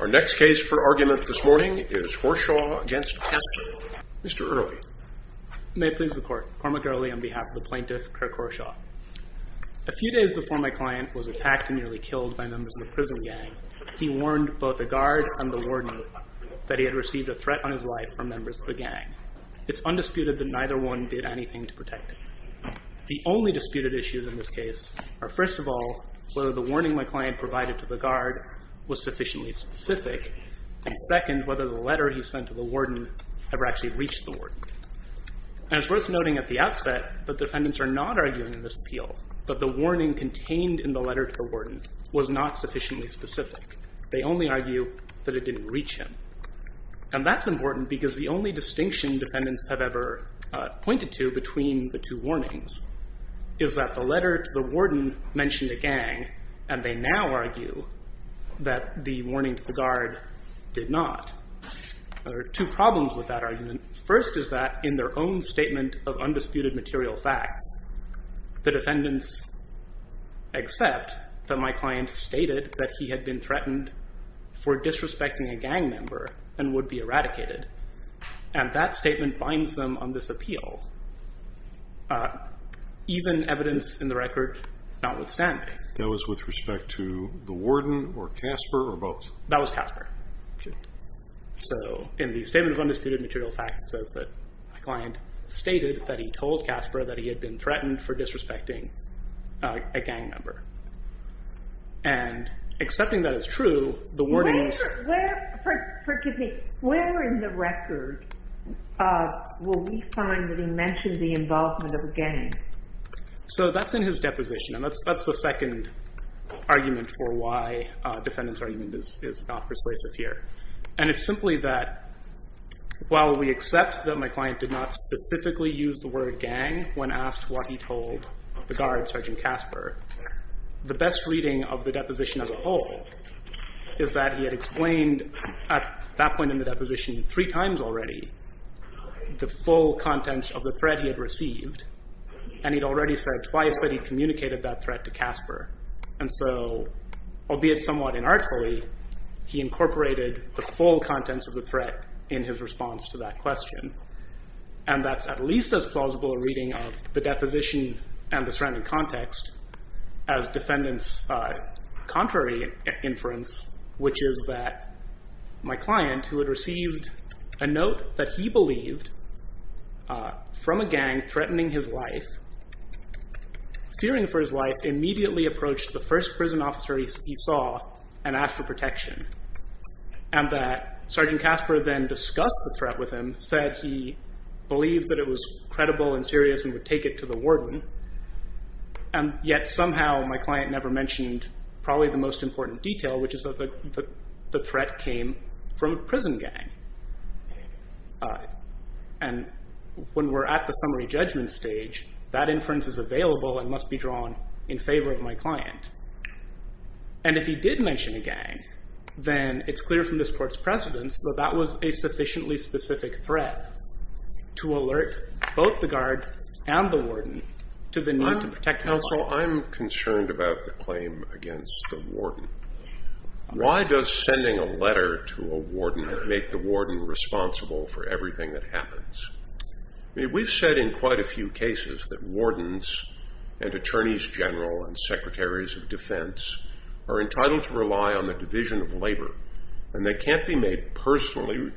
Our next case for argument this morning is Horshaw v. Casper Mr. Earley May it please the court, Cormac Earley on behalf of the plaintiff, Kirk Horshaw A few days before my client was attacked and nearly killed by members of the prison gang he warned both the guard and the warden that he had received a threat on his life from members of the gang It's undisputed that neither one did anything to protect him The only disputed issues in this case are first of all whether the warning my client provided to the guard was sufficiently specific and second, whether the letter he sent to the warden ever actually reached the warden And it's worth noting at the outset that defendants are not arguing in this appeal that the warning contained in the letter to the warden was not sufficiently specific They only argue that it didn't reach him And that's important because the only distinction defendants have ever pointed to between the two warnings is that the letter to the warden mentioned a gang and they now argue that the warning to the guard did not There are two problems with that argument First is that in their own statement of undisputed material facts the defendants accept that my client stated that he had been threatened for disrespecting a gang member and would be eradicated And that statement binds them on this appeal Even evidence in the record notwithstanding That was with respect to the warden or Casper or both? That was Casper So in the statement of undisputed material facts says that my client stated that he told Casper that he had been threatened for disrespecting a gang member And accepting that as true, the warnings Where in the record will we find that he mentioned the involvement of a gang? So that's in his deposition and that's the second argument for why defendants argument is not persuasive here And it's simply that while we accept that my client did not specifically use the word gang when asked what he told the guard, Sergeant Casper The best reading of the deposition as a whole Is that he had explained at that point in the deposition three times already The full contents of the threat he had received And he'd already said twice that he'd communicated that threat to Casper And so, albeit somewhat inartfully He incorporated the full contents of the threat in his response to that question And that's at least as plausible a reading of the deposition and the surrounding context As defendants contrary inference Which is that my client who had received a note that he believed From a gang threatening his life Fearing for his life, immediately approached the first prison officer he saw And asked for protection And that Sergeant Casper then discussed the threat with him Said he believed that it was credible and serious and would take it to the warden And yet somehow my client never mentioned probably the most important detail Which is that the threat came from a prison gang And when we're at the summary judgment stage That inference is available and must be drawn in favor of my client And if he did mention a gang Then it's clear from this court's precedence that that was a sufficiently specific threat To alert both the guard and the warden to the need to protect himself I'm concerned about the claim against the warden Why does sending a letter to a warden make the warden responsible for everything that happens? We've said in quite a few cases that wardens And attorneys general and secretaries of defense Are entitled to rely on the division of labor And they can't be made personally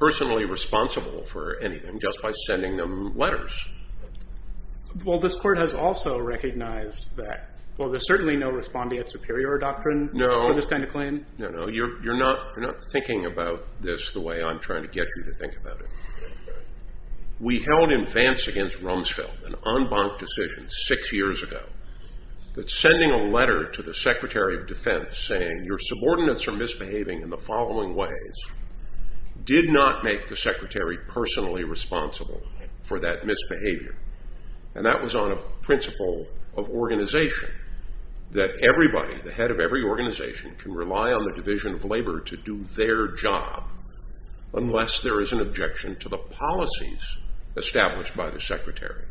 responsible for anything Just by sending them letters Well this court has also recognized that Well there's certainly no respondeat superior doctrine No, you're not thinking about this the way I'm trying to get you to think about it We held in advance against Rumsfeld An en banc decision six years ago That sending a letter to the secretary of defense saying Your subordinates are misbehaving in the following ways Did not make the secretary personally responsible for that misbehavior And that was on a principle of organization That everybody, the head of every organization Can rely on the division of labor to do their job Unless there is an objection to the policies established by the secretary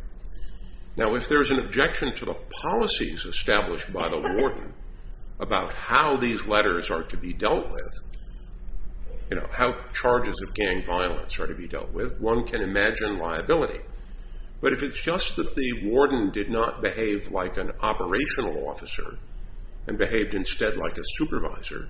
Now if there is an objection to the policies established by the warden About how these letters are to be dealt with You know, how charges of gang violence are to be dealt with One can imagine liability But if it's just that the warden did not behave like an operational officer And behaved instead like a supervisor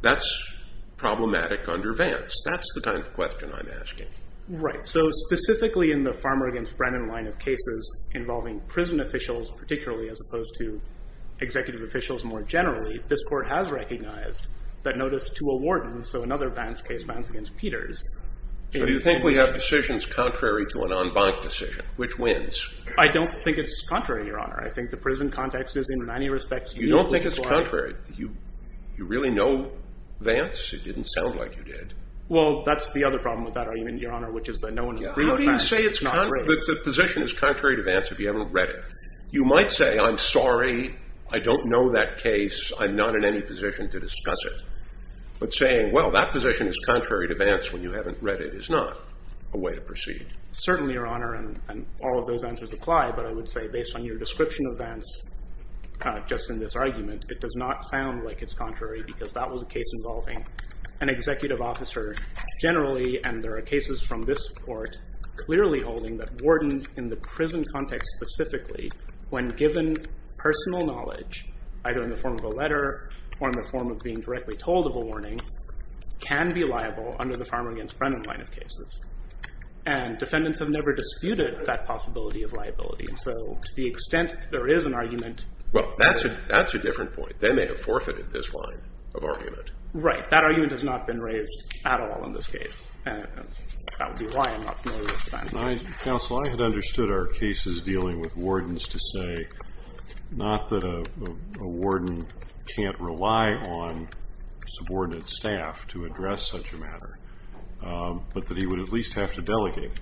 That's problematic under Vance That's the kind of question I'm asking Right, so specifically in the Farmer v. Brennan line of cases Involving prison officials particularly as opposed to Executive officials more generally This court has recognized that notice to a warden So another Vance case, Vance v. Peters Do you think we have decisions contrary to an en banc decision? Which wins? I don't think it's contrary, your honor I think the prison context is in many respects You don't think it's contrary? You really know Vance? It didn't sound like you did Well that's the other problem with that argument, your honor Which is that no one has agreed on Vance How do you say the position is contrary to Vance if you haven't read it? You might say I'm sorry, I don't know that case I'm not in any position to discuss it But saying well that position is contrary to Vance When you haven't read it is not a way to proceed Certainly, your honor, and all of those answers apply But I would say based on your description of Vance Just in this argument It does not sound like it's contrary Because that was a case involving an executive officer Generally, and there are cases from this court Clearly holding that wardens in the prison context specifically When given personal knowledge Either in the form of a letter Or in the form of being directly told of a warning Can be liable under the Farmer v. Brennan line of cases And defendants have never disputed that possibility of liability So to the extent there is an argument Well that's a different point They may have forfeited this line of argument Right, that argument has not been raised at all in this case And that would be why I'm not familiar with Vance Counsel, I had understood our cases dealing with wardens to say Not that a warden can't rely on subordinate staff to address such a matter But that he would at least have to delegate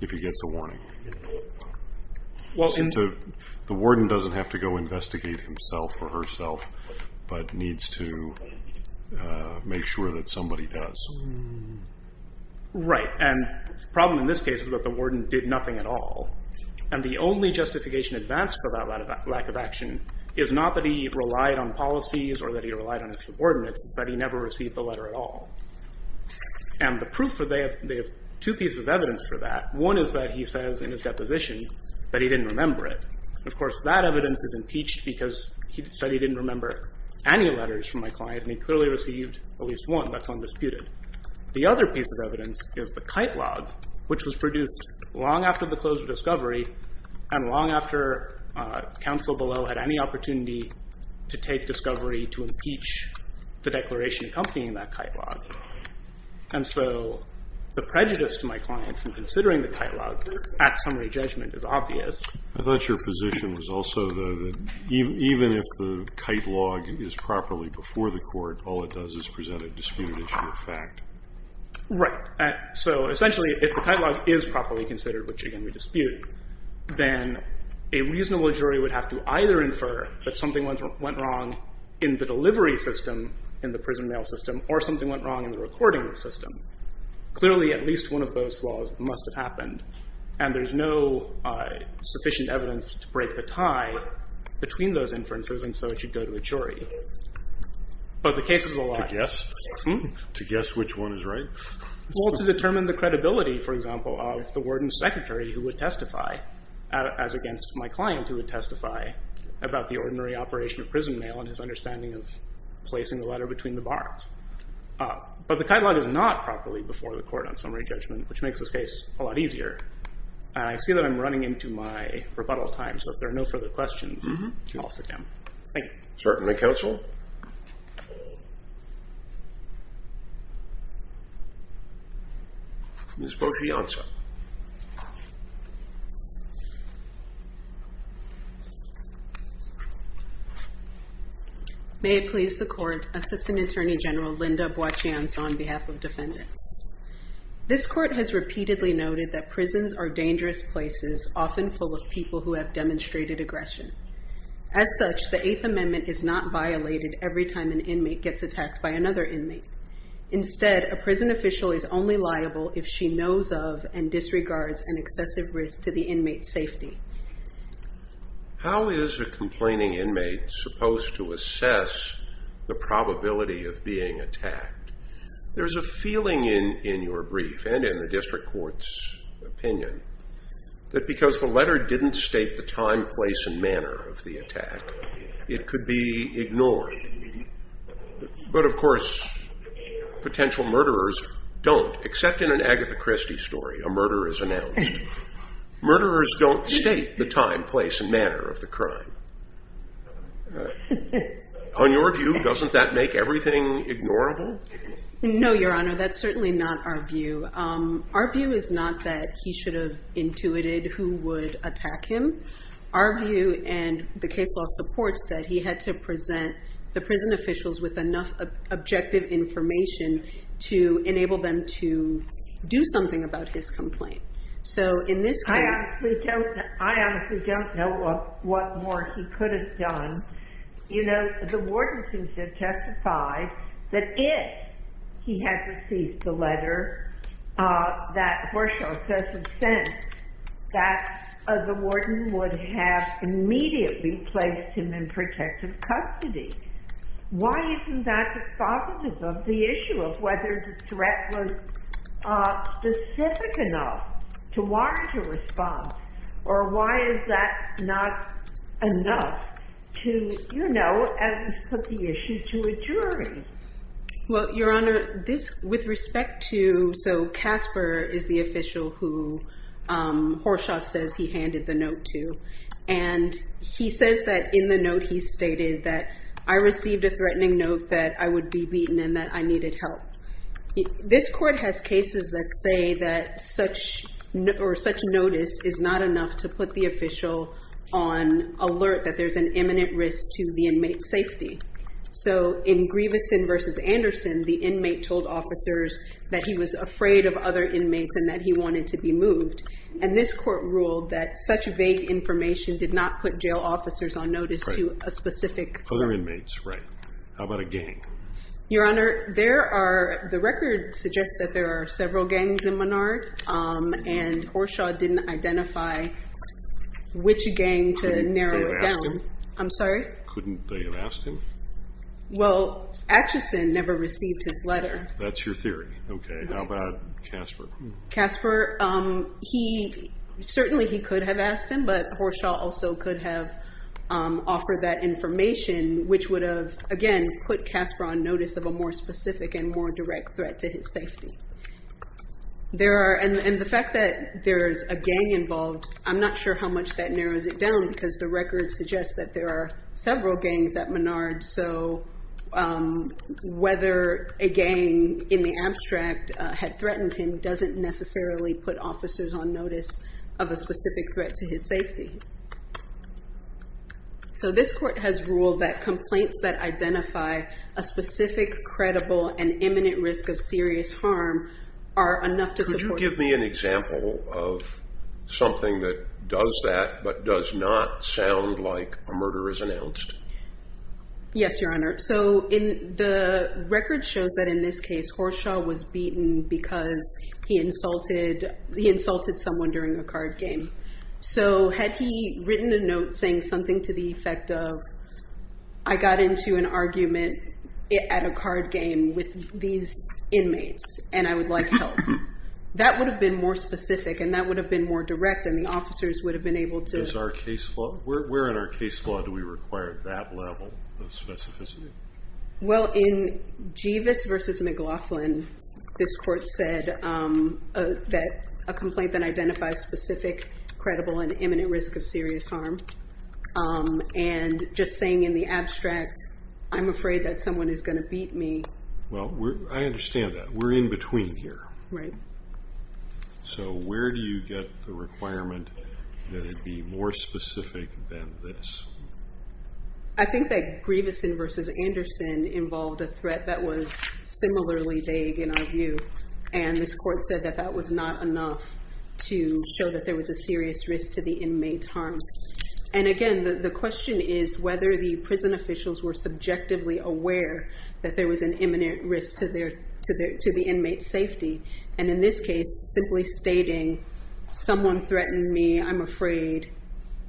If he gets a warning The warden doesn't have to go investigate himself or herself But needs to make sure that somebody does Right, and the problem in this case is that the warden did nothing at all And the only justification advanced for that lack of action Is not that he relied on policies Or that he relied on his subordinates It's that he never received the letter at all And the proof, they have two pieces of evidence for that One is that he says in his deposition that he didn't remember it Of course that evidence is impeached because he said he didn't remember Any letters from my client and he clearly received at least one That's undisputed The other piece of evidence is the kite log Which was produced long after the close of discovery And long after counsel below had any opportunity To take discovery to impeach the declaration accompanying that kite log And so the prejudice to my client from considering the kite log At summary judgment is obvious I thought your position was also though that Even if the kite log is properly before the court All it does is present a disputed issue of fact Right, so essentially if the kite log is properly considered Which again we dispute Then a reasonable jury would have to either infer That something went wrong in the delivery system In the prison mail system Or something went wrong in the recording system Clearly at least one of those flaws must have happened And there's no sufficient evidence to break the tie Between those inferences and so it should go to a jury But the case is alive To guess which one is right? Well to determine the credibility for example Of the warden's secretary who would testify As against my client who would testify About the ordinary operation of prison mail And his understanding of placing the letter between the bars But the kite log is not properly before the court On summary judgment which makes this case a lot easier And I see that I'm running into my rebuttal time So if there are no further questions I'll sit down Thank you Certainly counsel Ms. Boccianza May it please the court Assistant Attorney General Linda Boccianza On behalf of defendants This court has repeatedly noted That prisons are dangerous places Often full of people who have demonstrated aggression As such the Eighth Amendment is not violated Every time an inmate gets attacked by another inmate Instead a prison official is only liable If she knows of and disregards An excessive risk to the inmate's safety How is a complaining inmate supposed to assess The probability of being attacked? There's a feeling in your brief And in the district court's opinion That because the letter didn't state The time, place and manner of the attack It could be ignored But of course potential murderers don't Except in an Agatha Christie story A murder is announced Murderers don't state the time, place and manner of the crime On your view doesn't that make everything ignorable? No your honor that's certainly not our view Our view is not that he should have Intuited who would attack him Our view and the case law supports That he had to present the prison officials With enough objective information To enable them to do something about his complaint So in this case I honestly don't know what more he could have done You know the warden seems to have testified That if he had received the letter That Horshaw says had sent That the warden would have Immediately placed him in protective custody Why isn't that dispositive of the issue Of whether the threat was specific enough To warrant a response Or why is that not enough To you know put the issue to a jury Well your honor this with respect to So Casper is the official who Horshaw says he handed the note to And he says that in the note he stated That I received a threatening note That I would be beaten and that I needed help This court has cases that say that Such notice is not enough To put the official on alert That there's an imminent risk to the inmate's safety So in Grieveson versus Anderson The inmate told officers That he was afraid of other inmates And that he wanted to be moved And this court ruled that such vague information Did not put jail officers on notice To a specific Other inmates right How about a gang Your honor there are The record suggests that there are several gangs in Menard And Horshaw didn't identify Which gang to narrow it down I'm sorry Couldn't they have asked him Well Atchison never received his letter That's your theory Okay how about Casper Casper he Certainly he could have asked him But Horshaw also could have Offered that information Which would have again Put Casper on notice of a more specific And more direct threat to his safety There are And the fact that there is a gang involved I'm not sure how much that narrows it down Because the record suggests that there are Several gangs at Menard So Whether a gang in the abstract Had threatened him Doesn't necessarily put officers on notice Of a specific threat to his safety So this court has ruled that Complaints that identify A specific credible and imminent risk of serious harm Are enough to support Could you give me an example of Something that does that But does not sound like A murder is announced Yes your honor So in the record shows that in this case Horshaw was beaten because He insulted He insulted someone during a card game So had he written a note Saying something to the effect of I got into an argument At a card game With these inmates And I would like help That would have been more specific And that would have been more direct And the officers would have been able to Is our case law Where in our case law do we require That level of specificity Well in Jeevis versus McLaughlin This court said That a complaint that identifies A specific credible and imminent Risk of serious harm And just saying in the abstract I'm afraid that someone is going to Beat me Well I understand that We're in between here Right So where do you get the requirement That it be more specific Than this I think that Jeevis versus Anderson Involved a threat that was Similarly vague in our view And this court said that that was not Enough to show that there was A serious risk to the inmate's harm And again the question is Whether the prison officials were Subjectively aware that there Was an imminent risk to their To the inmate's safety And in this case simply stating Someone threatened me I'm afraid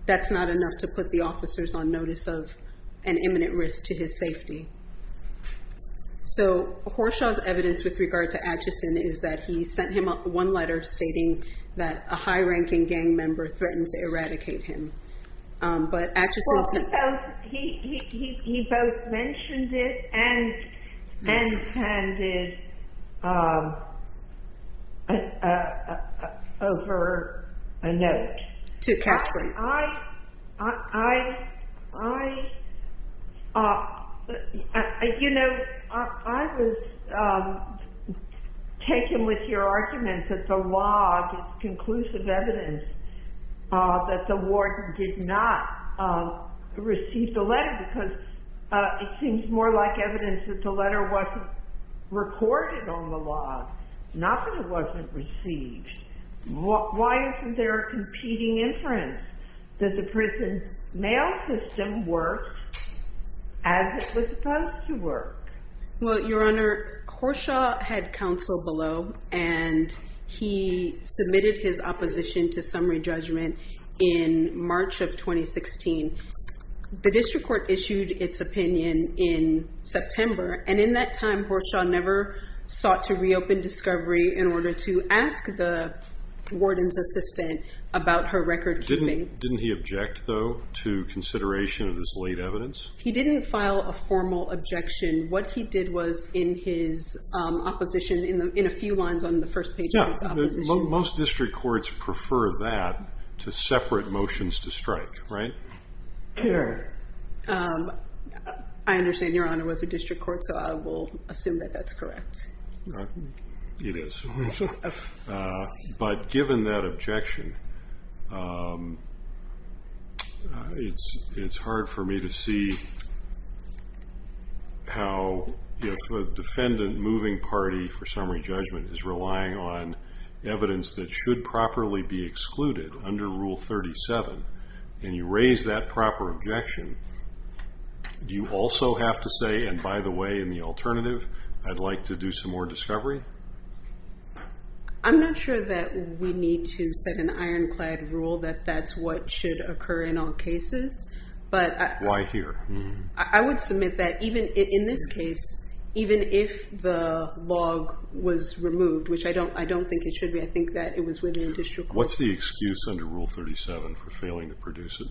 That's not enough to put the officers on notice of An imminent risk to his safety So Horshaw's evidence with regard to Stating that a high ranking Gang member threatened to eradicate him But actress He both Mentioned it And handed Over a note To Casper I You know I was Taken with your argument That the log Conclusive evidence That the warden did not Receive the letter Because it seems more like Evidence that the letter wasn't Recorded on the log Not that it wasn't received Why isn't there A competing inference That the prison mail system Worked As it was supposed to work Well your honor Horshaw had counsel below And he submitted His opposition to summary judgment In March of 2016 The district court issued its opinion In September and in that time Horshaw never sought to Reopen discovery in order to Ask the warden's assistant About her record keeping Didn't he object though to Consideration of his late evidence He didn't file a formal Objection what he did was in his Opposition in a few Lines on the first page of his opposition Most district courts prefer that To separate motions to strike Right I Understand your honor was a district court so I will Assume that that's correct It is But given that Objection Um It's hard for me to See How A defendant moving party for summary Judgment is relying on Evidence that should properly be Excluded under rule 37 And you raise that proper Objection Do you also have to say and by the way In the alternative I'd like to do Some more discovery I'm not sure that We need to set an ironclad Rule that that's what should occur In all cases but Why here I would submit That even in this case Even if the log Was removed which I don't I don't think It should be I think that it was within district What's the excuse under rule 37 For failing to produce it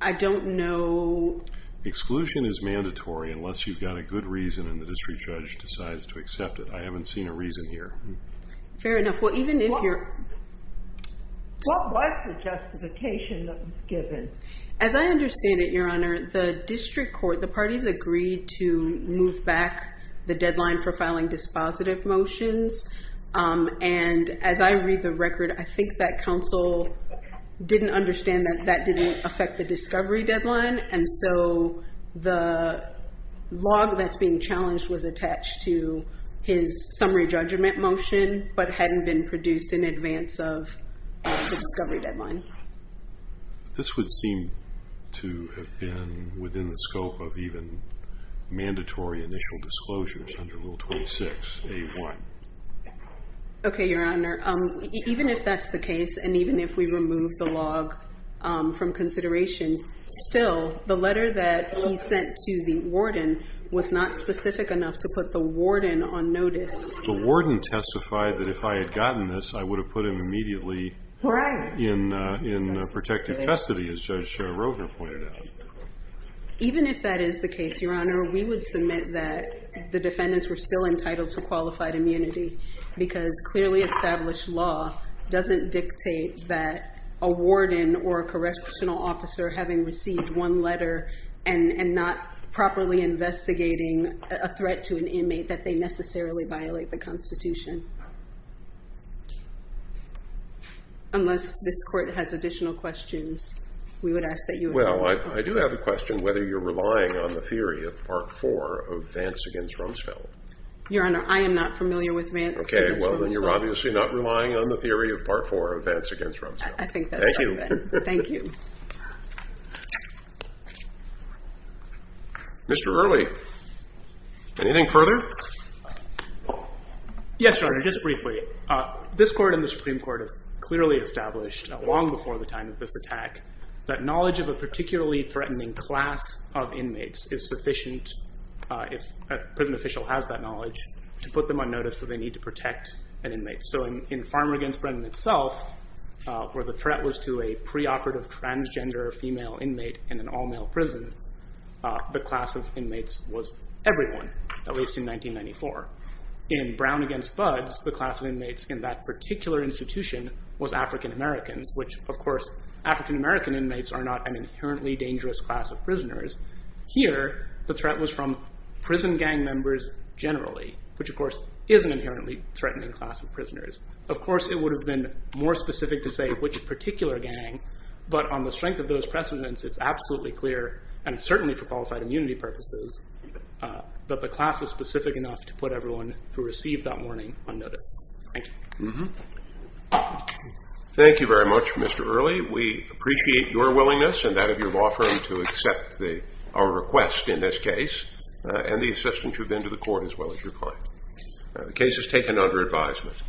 I don't know Exclusion is mandatory unless you've got A good reason and the district judge decides To accept it I haven't seen a reason here Fair enough well even if you're What was The justification that was given As I understand it your honor The district court the parties agreed To move back The deadline for filing dispositive Motions um and As I read the record I think that Council didn't understand That that didn't affect the discovery Deadline and so The log that's Being challenged was attached to His summary judgment motion But hadn't been produced in advance Of the discovery deadline This would seem To have been Within the scope of even Mandatory initial disclosures Under rule 26 A1 Okay your honor Um even if that's the case And even if we remove the log Um from consideration still The letter that he sent To the warden was not specific Enough to put the warden on notice The warden testified that If I had gotten this I would have put him immediately Right In protective custody as Judge Schroeder pointed out Even if that is the case your honor We would submit that the defendants Were still entitled to qualified immunity Because clearly established Law doesn't dictate That a warden or a Correctional officer having received One letter and not Properly investigating A threat to an inmate that they necessarily Violate the constitution Unless this court has Additional questions Well I do have a question Whether you're relying on the theory of part Four of Vance against Rumsfeld Your honor I am not familiar with Vance against Rumsfeld Okay well then you're obviously not relying on the theory of part four Of Vance against Rumsfeld Thank you Mr. Early Anything further Yes your honor just briefly This court and the supreme court Clearly established long before the time Of this attack that knowledge of a Particularly threatening class Of inmates is sufficient If a prison official has that knowledge To put them on notice that they need to protect An inmate so in farmer Against Brennan itself Where the threat was to a preoperative Transgender female inmate in an all Male prison the class Of inmates was everyone At least in 1994 In brown against buds the class of inmates In that particular institution Was African Americans which of course African American inmates are not an Inherently dangerous class of prisoners Here the threat was from Prison gang members generally Which of course is an inherently Threatening class of prisoners Of course it would have been more specific to say Which particular gang But on the strength of those precedents it's absolutely Clear and certainly for qualified immunity Purposes But the class was specific enough to put everyone Who received that warning on notice Thank you Thank you very much Mr. Early We appreciate your willingness And that of your law firm to accept Our request in this case And the assistance you've been to the court as well Thank you for your time The case is taken under advisement